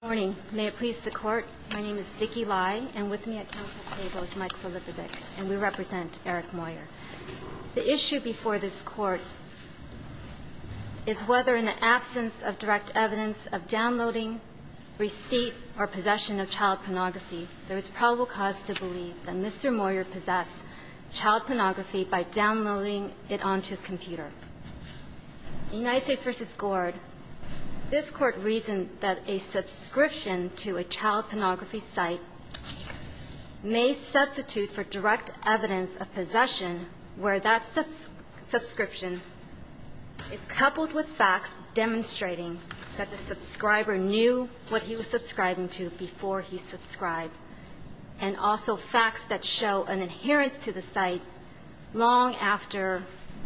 Good morning. May it please the Court, my name is Vicky Lai and with me at Council table is Mike Filippovic and we represent Eric Moyer. The issue before this Court is whether in the absence of direct evidence of downloading, receipt, or possession of child pornography, there is probable cause to believe that Mr. Moyer possessed child pornography by downloading it onto his computer. In United States v. Gord, this Court reasoned that a subscription to a child pornography site may substitute for direct evidence of possession where that subscription is coupled with facts demonstrating that the subscriber knew what he was subscribing to before he subscribed and also facts that show an adherence to the site long after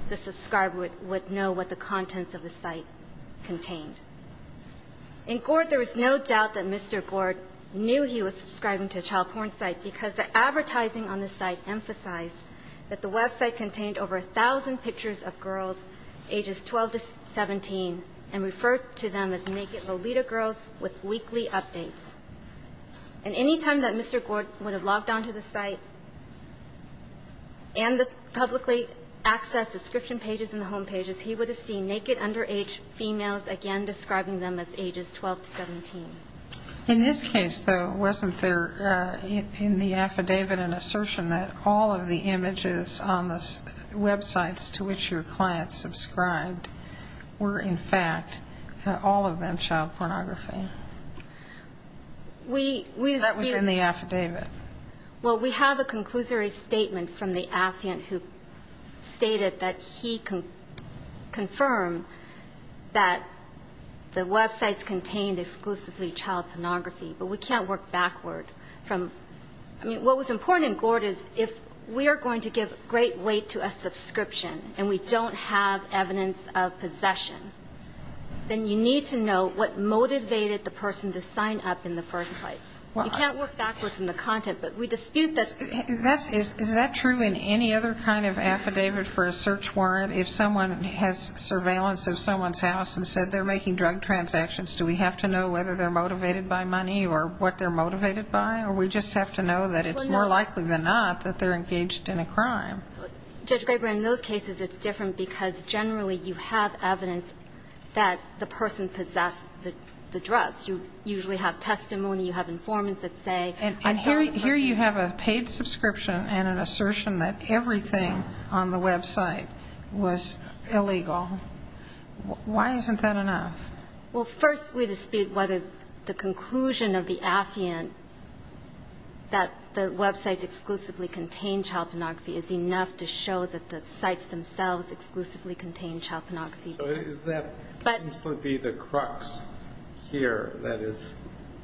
the subscriber would know what the contents of the site contained. In Gord, there is no doubt that Mr. Gord knew he was subscribing to a child porn site because the advertising on the site emphasized that the website contained over 1,000 pictures of girls ages 12 to 17 and referred to them as naked Lolita girls with weekly updates. And any time that Mr. Gord would have logged onto the site and publicly accessed the subscription pages and the home pages, he would have seen naked underage females again describing them as ages 12 to 17. In this case, though, wasn't there in the affidavit an assertion that all of the images on the websites to which your client subscribed were, in fact, all of them child pornography? That was in the affidavit. Well, we have a conclusory statement from the affiant who stated that he confirmed that the websites contained exclusively child pornography. But we can't work backward from ñ I mean, what was important in Gord is if we are going to give great weight to a subscription and we don't have evidence of possession, then you need to know what motivated the person to sign up in the first place. You can't work backward from the content. But we dispute that. Is that true in any other kind of affidavit for a search warrant? If someone has surveillance of someone's house and said they're making drug transactions, do we have to know whether they're motivated by money or what they're motivated by, or we just have to know that it's more likely than not that they're engaged in a crime? Judge Graber, in those cases it's different because generally you have evidence that the person possessed the drugs. You usually have testimony. You have informants that say, I saw the person. And here you have a paid subscription and an assertion that everything on the website was illegal. Why isn't that enough? Well, first we dispute whether the conclusion of the affiant that the websites exclusively contain child pornography is enough to show that the sites themselves exclusively contain child pornography. So that seems to be the crux here that is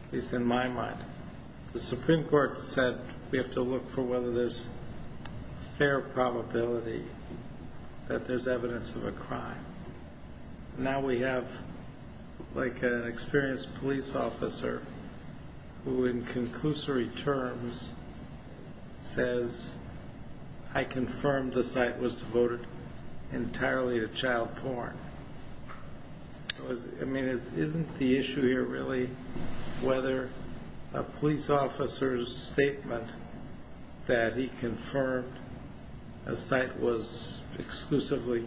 at least in my mind. The Supreme Court said we have to look for whether there's fair probability that there's evidence of a crime. Now we have, like, an experienced police officer who in conclusory terms says, I confirmed the site was devoted entirely to child porn. I mean, isn't the issue here really whether a police officer's statement that he confirmed a site was exclusively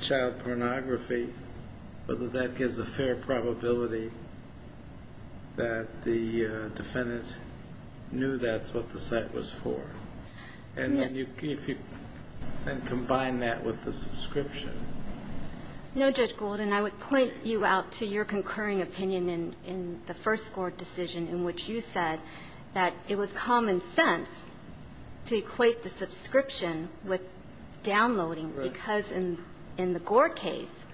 child pornography, whether that gives a fair probability that the defendant knew that's what the site was for? And then if you then combine that with the subscription. No, Judge Golden. I would point you out to your concurring opinion in the first Gord decision in which you said that it was common sense to equate the subscription with downloading because in the Gord case,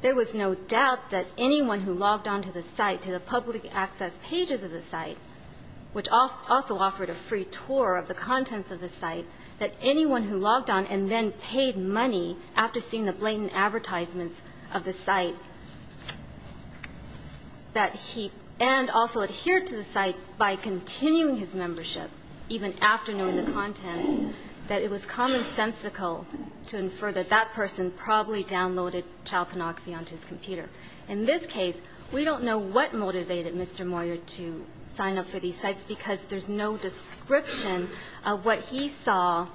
there was no doubt that anyone who logged on to the site, to the public access pages of the site, which also offered a free tour of the contents of the site, that anyone who logged on and then paid money after seeing the blatant advertisements of the site, that he and also adhered to the site by continuing his membership even after knowing the contents, that it was commonsensical to infer that that person probably downloaded child pornography onto his computer. In this case, we don't know what motivated Mr. Moyer to sign up for these sites because there's no description of what he saw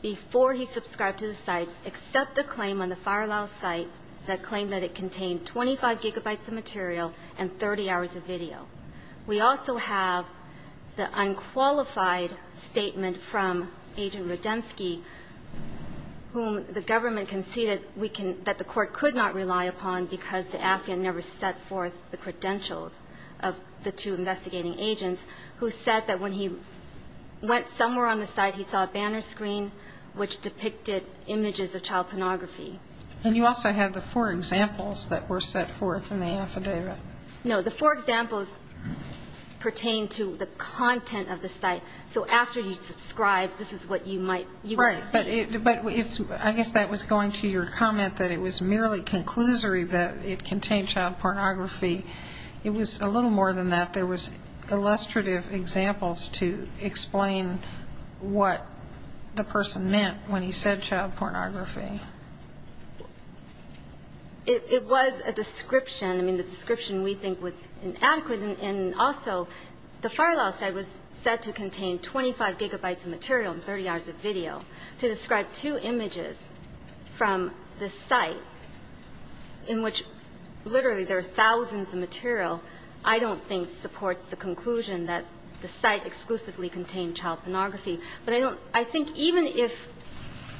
before he subscribed to the sites except a claim on the Farlow site that claimed that it contained 25 gigabytes of material and 30 hours of video. We also have the unqualified statement from Agent Radensky whom the government conceded that the court could not rely upon because the affidavit never set forth the credentials of the two investigating agents who said that when he went somewhere on the site, he saw a banner screen which depicted images of child pornography. And you also have the four examples that were set forth in the affidavit. No. The four examples pertain to the content of the site. So after you subscribe, this is what you might see. But I guess that was going to your comment that it was merely conclusory that it contained child pornography. It was a little more than that. There was illustrative examples to explain what the person meant when he said child pornography. It was a description. I mean, the description we think was inadequate. And also, the Farlow site was said to contain 25 gigabytes of material and 30 hours of video to describe two images from the site in which literally there are thousands of material I don't think supports the conclusion that the site exclusively contained child pornography. But I don't – I think even if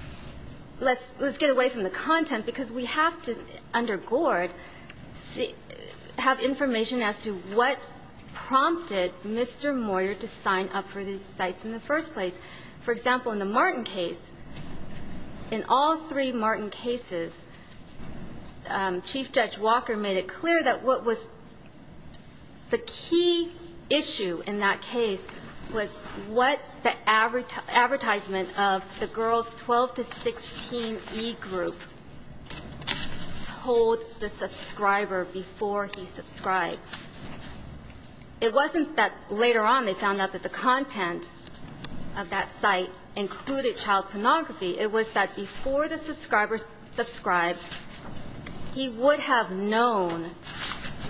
– let's get away from the content because we have to, under Gord, have information as to what prompted Mr. Moyer to sign up for these sites in the first place. For example, in the Martin case, in all three Martin cases, Chief Judge Walker made it clear that what was the key issue in that case was what the advertisement of the girls 12 to 16 E group told the subscriber before he subscribed. It wasn't that later on they found out that the content of that site included child pornography. It was that before the subscriber subscribed, he would have known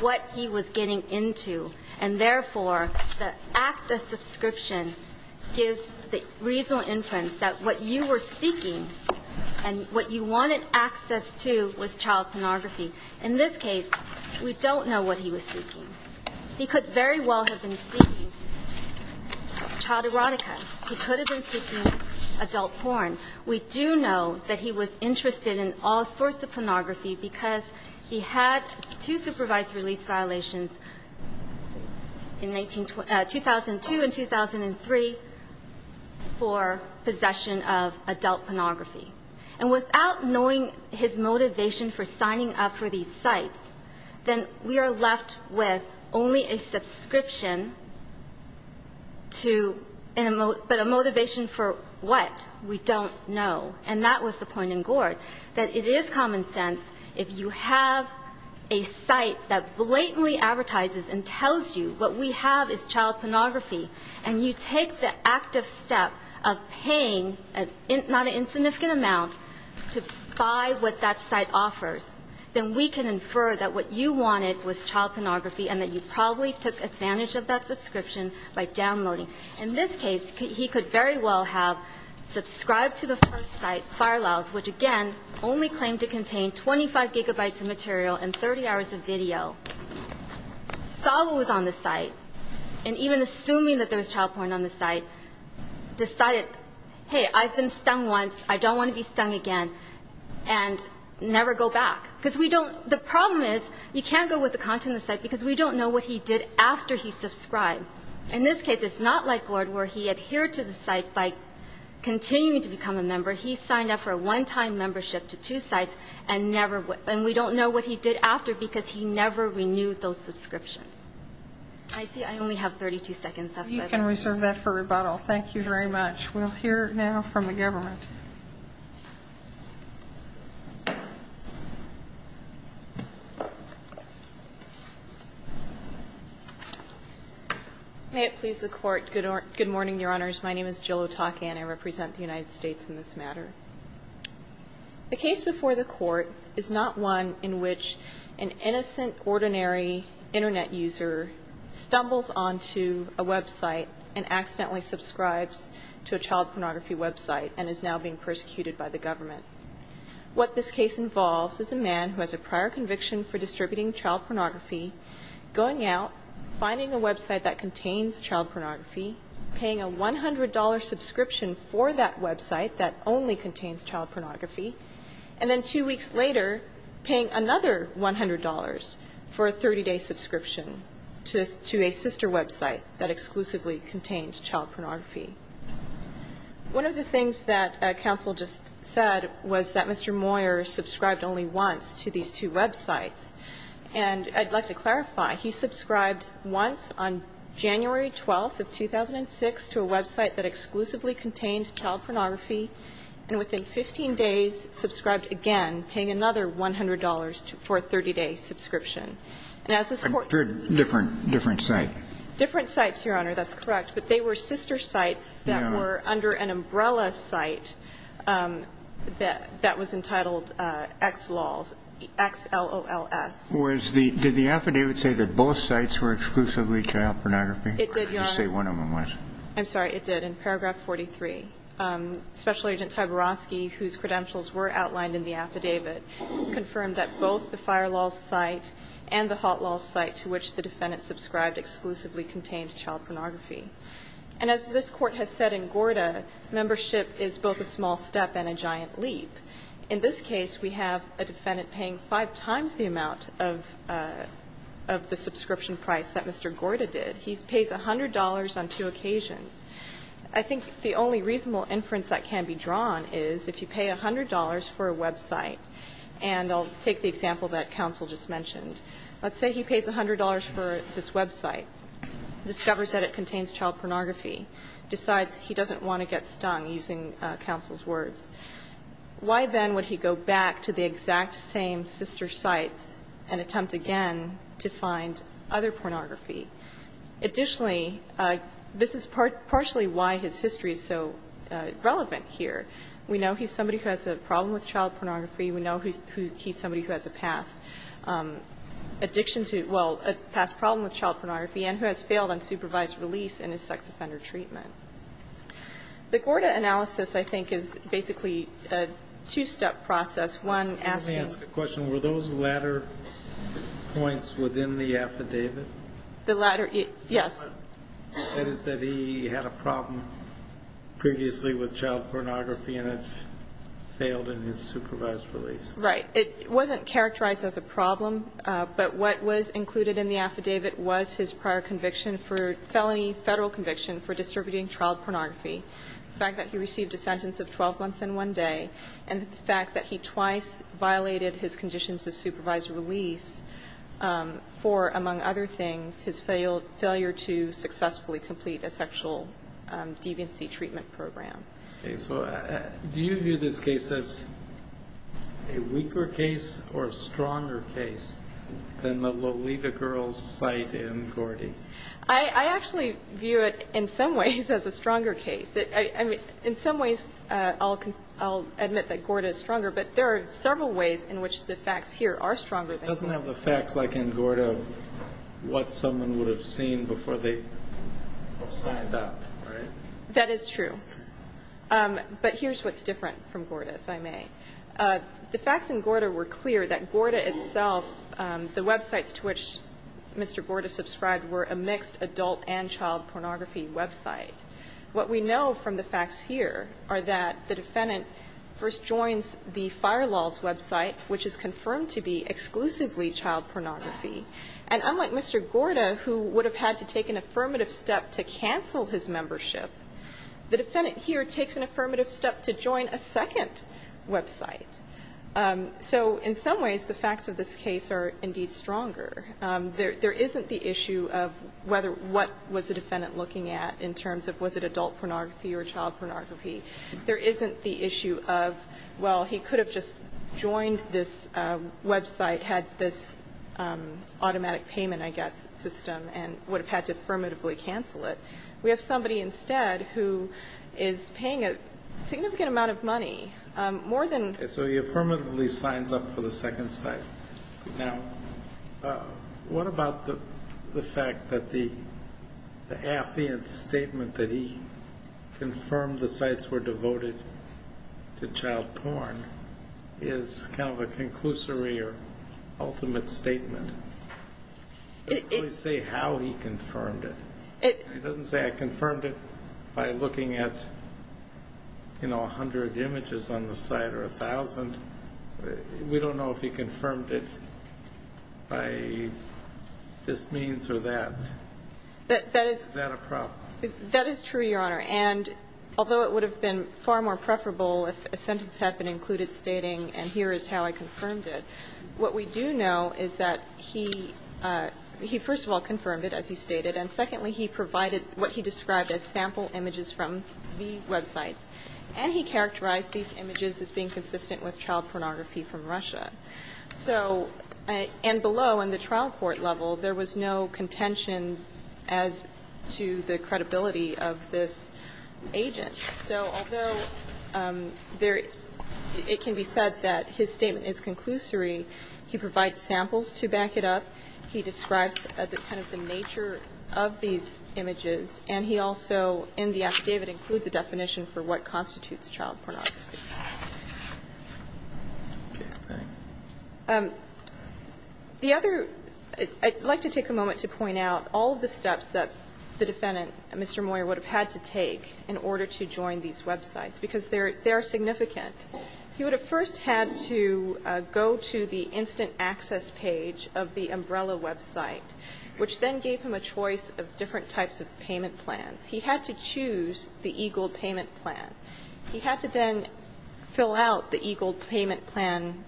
what he was getting into. And therefore, the act of subscription gives the reasonable inference that what you were seeking and what you wanted access to was child pornography. In this case, we don't know what he was seeking. He could very well have been seeking child erotica. He could have been seeking adult porn. We do know that he was interested in all sorts of pornography because he had two supervised release violations in 2002 and 2003 for possession of adult pornography. And without knowing his motivation for signing up for these sites, then we are left with only a subscription to a motivation for what? We don't know. And that was the point in Gord, that it is common sense if you have a site that blatantly advertises and tells you what we have is child pornography, and you take the active step of paying not an insignificant amount to buy what that site offers, then we can infer that what you wanted was child pornography and that you probably took advantage of that subscription by downloading. In this case, he could very well have subscribed to the first site, Farlows, which, again, only claimed to contain 25 gigabytes of material and 30 hours of video. Farlows on the site, and even assuming that there was child porn on the site, decided, hey, I've been stung once, I don't want to be stung again, and never go back. Because we don't the problem is, you can't go with the content of the site because we don't know what he did after he subscribed. In this case, it's not like Gord where he adhered to the site by continuing to become a member. He signed up for a one-time membership to two sites, and we don't know what he did after because he never renewed those subscriptions. I see I only have 32 seconds. That's it. You can reserve that for rebuttal. Thank you very much. We'll hear now from the government. May it please the Court. Good morning, Your Honors. My name is Jill Otake, and I represent the United States in this matter. The case before the Court is not one in which an innocent, ordinary Internet user stumbles onto a website and accidentally subscribes to a child pornography website and is now being persecuted by the government. What this case involves is a man who has a prior conviction for distributing child pornography, going out, finding a website that contains child pornography, paying a $100 subscription for that website that only contains child pornography, and then two weeks later paying another $100 for a 30-day subscription to a sister website that exclusively contains child pornography. One of the things that counsel just said was that Mr. Moyer subscribed only once to these two websites. And I'd like to clarify. He subscribed once on January 12th of 2006 to a website that exclusively contained child pornography, and within 15 days subscribed again, paying another $100 for a 30-day subscription. And as this Court ---- A different site. Different sites, Your Honor. That's correct. But they were sister sites that were under an umbrella site that was entitled XLOLS, X-L-O-L-S. Was the ---- Did the affidavit say that both sites were exclusively child pornography? It did, Your Honor. Or did it say one of them was? I'm sorry. It did. In paragraph 43, Special Agent Taborosky, whose credentials were outlined in the affidavit, confirmed that both the FireLaw site and the HotLaw site to which the defendant subscribed exclusively contained child pornography. And as this Court has said in Gorda, membership is both a small step and a giant leap. In this case, we have a defendant paying five times the amount of the subscription price that Mr. Gorda did. He pays $100 on two occasions. I think the only reasonable inference that can be drawn is if you pay $100 for a website ---- and I'll take the example that counsel just mentioned. Let's say he pays $100 for this website, discovers that it contains child pornography, decides he doesn't want to get stung, using counsel's words. Why then would he go back to the exact same sister sites and attempt again to find other pornography? Additionally, this is partially why his history is so relevant here. We know he's somebody who has a problem with child pornography. We know he's somebody who has a past addiction to ---- well, a past problem with child pornography and who has failed on supervised release in his sex offender treatment. The Gorda analysis, I think, is basically a two-step process. One, asking ---- Let me ask a question. Were those latter points within the affidavit? The latter, yes. That is, that he had a problem previously with child pornography and it failed in his supervised release. Right. It wasn't characterized as a problem, but what was included in the affidavit was his prior conviction for felony federal conviction for distributing child pornography, the fact that he received a sentence of 12 months and one day, and the fact that he twice violated his conditions of supervised release for, among other things, his failure to successfully complete a sexual deviancy treatment program. Okay. So do you view this case as a weaker case or a stronger case than the Lolita girl's site in Gorda? I actually view it in some ways as a stronger case. I mean, in some ways I'll admit that Gorda is stronger, but there are several ways in which the facts here are stronger than Gorda. It doesn't have the facts like in Gorda of what someone would have seen before they signed up, right? That is true. But here's what's different from Gorda, if I may. The facts in Gorda were clear, that Gorda itself, the websites to which Mr. Gorda subscribed were a mixed adult and child pornography website. What we know from the facts here are that the defendant first joins the FireLol's website, which is confirmed to be exclusively child pornography. And unlike Mr. Gorda, who would have had to take an affirmative step to cancel his membership, the defendant here takes an affirmative step to join a second website. So in some ways the facts of this case are indeed stronger. There isn't the issue of whether what was the defendant looking at in terms of was it adult pornography or child pornography. There isn't the issue of, well, he could have just joined this website, had this automatic payment, I guess, system, and would have had to affirmatively cancel it. We have somebody instead who is paying a significant amount of money, more than So he affirmatively signs up for the second site. Now, what about the fact that the affiant statement that he confirmed the sites were devoted to child porn is kind of a conclusory or ultimate statement? It doesn't really say how he confirmed it. It doesn't say I confirmed it by looking at, you know, 100 images on the site or 1,000. We don't know if he confirmed it by this means or that. Is that a problem? That is true, Your Honor. And although it would have been far more preferable if a sentence had been included stating, and here is how I confirmed it, what we do know is that he first of all And secondly, he provided what he described as sample images from the websites. And he characterized these images as being consistent with child pornography from Russia. So and below in the trial court level, there was no contention as to the credibility of this agent. So although it can be said that his statement is conclusory, he provides samples to back it up. He describes kind of the nature of these images. And he also, in the affidavit, includes a definition for what constitutes child pornography. The other, I'd like to take a moment to point out all of the steps that the defendant, Mr. Moyer, would have had to take in order to join these websites, because they are significant. He would have first had to go to the instant access page of the Umbrella website, which then gave him a choice of different types of payment plans. He had to choose the EGLE payment plan. He had to then fill out the EGLE payment plan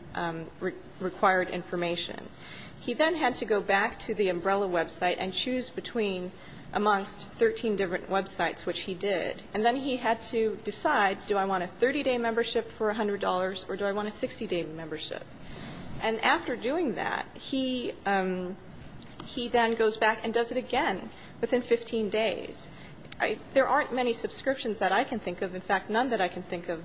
required information. He then had to go back to the Umbrella website and choose between amongst 13 different websites, which he did. And then he had to decide, do I want a 30-day membership for $100, or do I want a 60-day membership? And after doing that, he then goes back and does it again within 15 days. There aren't many subscriptions that I can think of. In fact, none that I can think of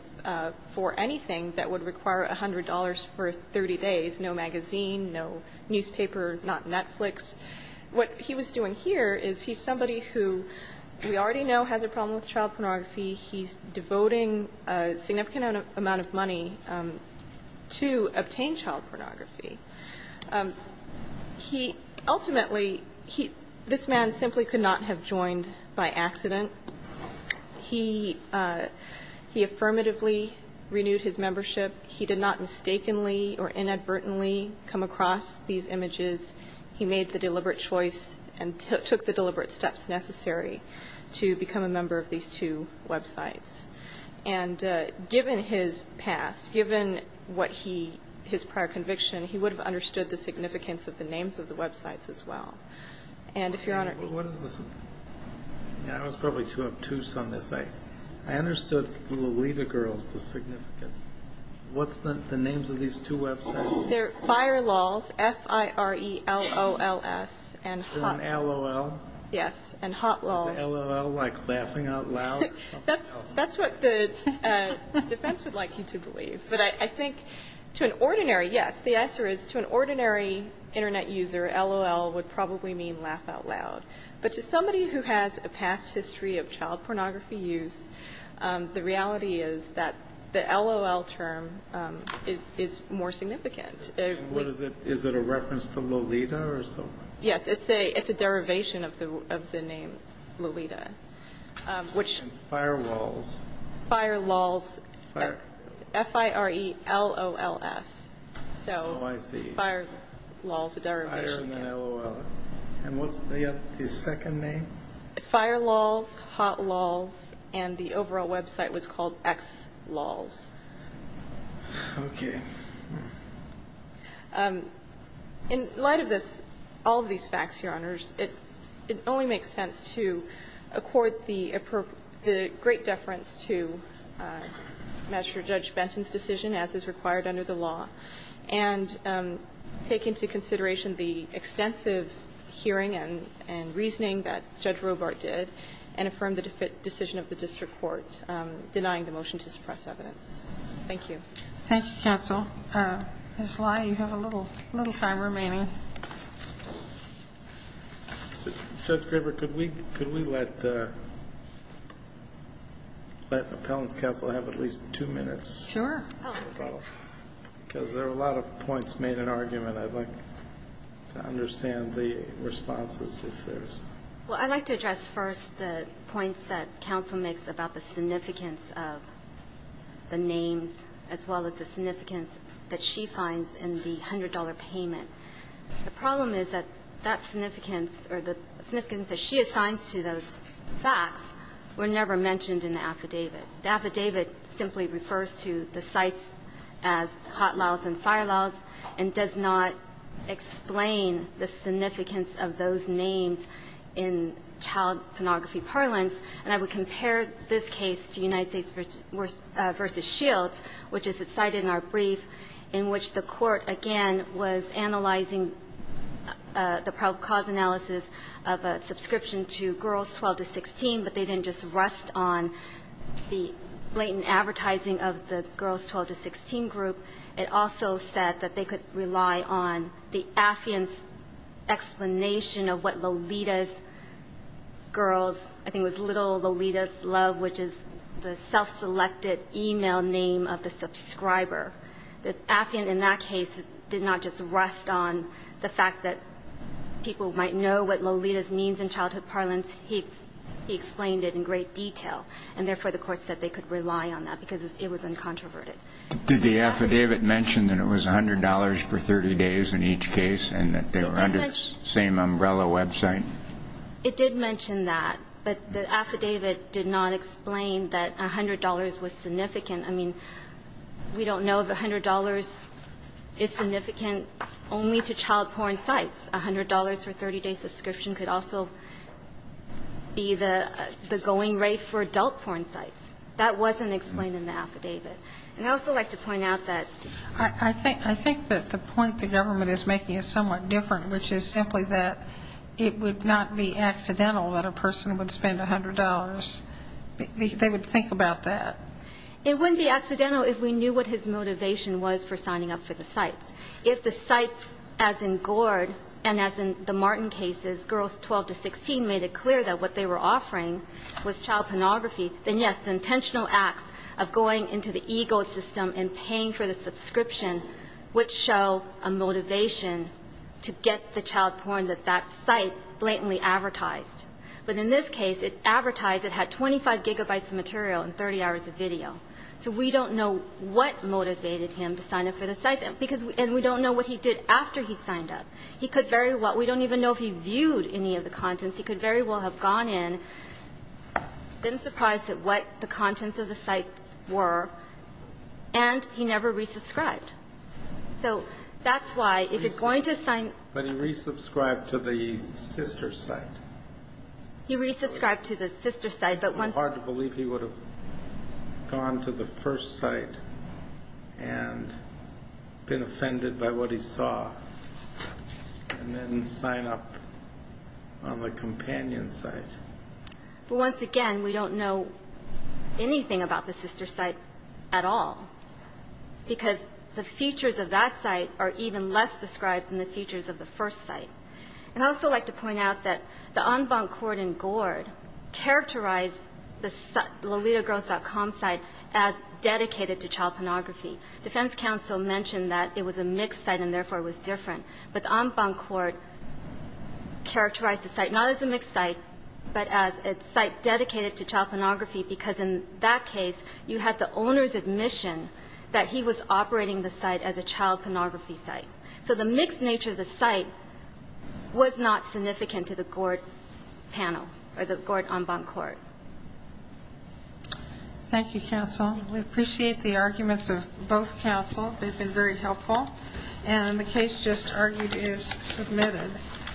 for anything that would require $100 for 30 days, no magazine, no newspaper, not Netflix. What he was doing here is he's somebody who we already know has a problem with child pornography. He's devoting a significant amount of money to obtain child pornography. He ultimately he this man simply could not have joined by accident. He affirmatively renewed his membership. He did not mistakenly or inadvertently come across these images. He made the deliberate choice and took the deliberate steps necessary to become a member of these two websites. And given his past, given what he his prior conviction, he would have understood the significance of the names of the websites as well. And if Your Honor. I was probably too obtuse on this. I understood Lolita Girls, the significance. What's the names of these two websites? They're Fire Lols, F-I-R-E-L-O-L-S. And LOL? Yes. And Hot Lols. Is LOL like laughing out loud or something else? That's what the defense would like you to believe. But I think to an ordinary, yes, the answer is to an ordinary Internet user LOL would probably mean laugh out loud. But to somebody who has a past history of child pornography use, the reality is that the LOL term is more significant. What is it? Is it a reference to Lolita or something? Yes, it's a derivation of the name Lolita. And Fire Lols? Fire Lols, F-I-R-E-L-O-L-S. Oh, I see. So Fire Lols, a derivation. Fire and then LOL. And what's the second name? Fire Lols, Hot Lols, and the overall website was called X Lols. Okay. In light of this, all of these facts, Your Honors, it only makes sense to accord the great deference to Master Judge Benton's decision as is required under the law and take into consideration the extensive hearing and reasoning that Judge Robart did and affirm the decision of the district court denying the motion to suppress evidence. Thank you. Thank you, counsel. Ms. Lai, you have a little time remaining. Judge Graber, could we let Appellant's counsel have at least two minutes? Sure. Because there were a lot of points made in argument. I'd like to understand the responses if there's... Well, I'd like to address first the points that counsel makes about the significance of the names as well as the significance that she finds in the $100 payment. The problem is that that significance or the significance that she assigns to those facts were never mentioned in the affidavit. The affidavit simply refers to the sites as Hot Lols and Fire Lols and does not explain the significance of those names in child pornography parlance. And I would compare this case to United States v. Shields, which is cited in our brief, in which the court, again, was analyzing the probable cause analysis of a subscription to Girls 12 to 16, but they didn't just rest on the blatant advertising of the Girls 12 to 16 group. It also said that they could rely on the affidavit's explanation of what Lolita's Girls, I think it was Little Lolita's Love, which is the self-selected e-mail name of the subscriber. The affidavit in that case did not just rest on the fact that people might know what Lolita's means in childhood parlance. He explained it in great detail. And therefore, the Court said they could rely on that because it was uncontroverted. Did the affidavit mention that it was $100 for 30 days in each case and that they were under the same umbrella website? It did mention that. But the affidavit did not explain that $100 was significant. I mean, we don't know if $100 is significant only to child porn sites. $100 for a 30-day subscription could also be the going rate for adult porn sites. That wasn't explained in the affidavit. And I'd also like to point out that the point the government is making is somewhat different, which is simply that it would not be accidental that a person would spend $100. They would think about that. It wouldn't be accidental if we knew what his motivation was for signing up for the sites. If the sites, as in Gord and as in the Martin cases, Girls 12 to 16, made it clear into the ego system and paying for the subscription would show a motivation to get the child porn that that site blatantly advertised. But in this case, it advertised it had 25 gigabytes of material and 30 hours of video. So we don't know what motivated him to sign up for the sites. And we don't know what he did after he signed up. He could very well we don't even know if he viewed any of the contents. He could very well have gone in, been surprised at what the contents of the sites were, and he never resubscribed. So that's why if you're going to sign. But he resubscribed to the sister site. He resubscribed to the sister site, but once. It's hard to believe he would have gone to the first site and been offended by what he saw and then sign up on the companion site. But once again, we don't know anything about the sister site at all, because the features of that site are even less described than the features of the first site. And I'd also like to point out that the en banc court in Gord characterized the LolitaGirls.com site as dedicated to child pornography. Defense counsel mentioned that it was a mixed site and therefore it was different. But the en banc court characterized the site not as a mixed site, but as a site dedicated to child pornography, because in that case, you had the owner's admission that he was operating the site as a child pornography site. So the mixed nature of the site was not significant to the Gord panel or the Gord en banc court. Thank you, counsel. We appreciate the arguments of both counsel. They've been very helpful. And the case just argued is submitted.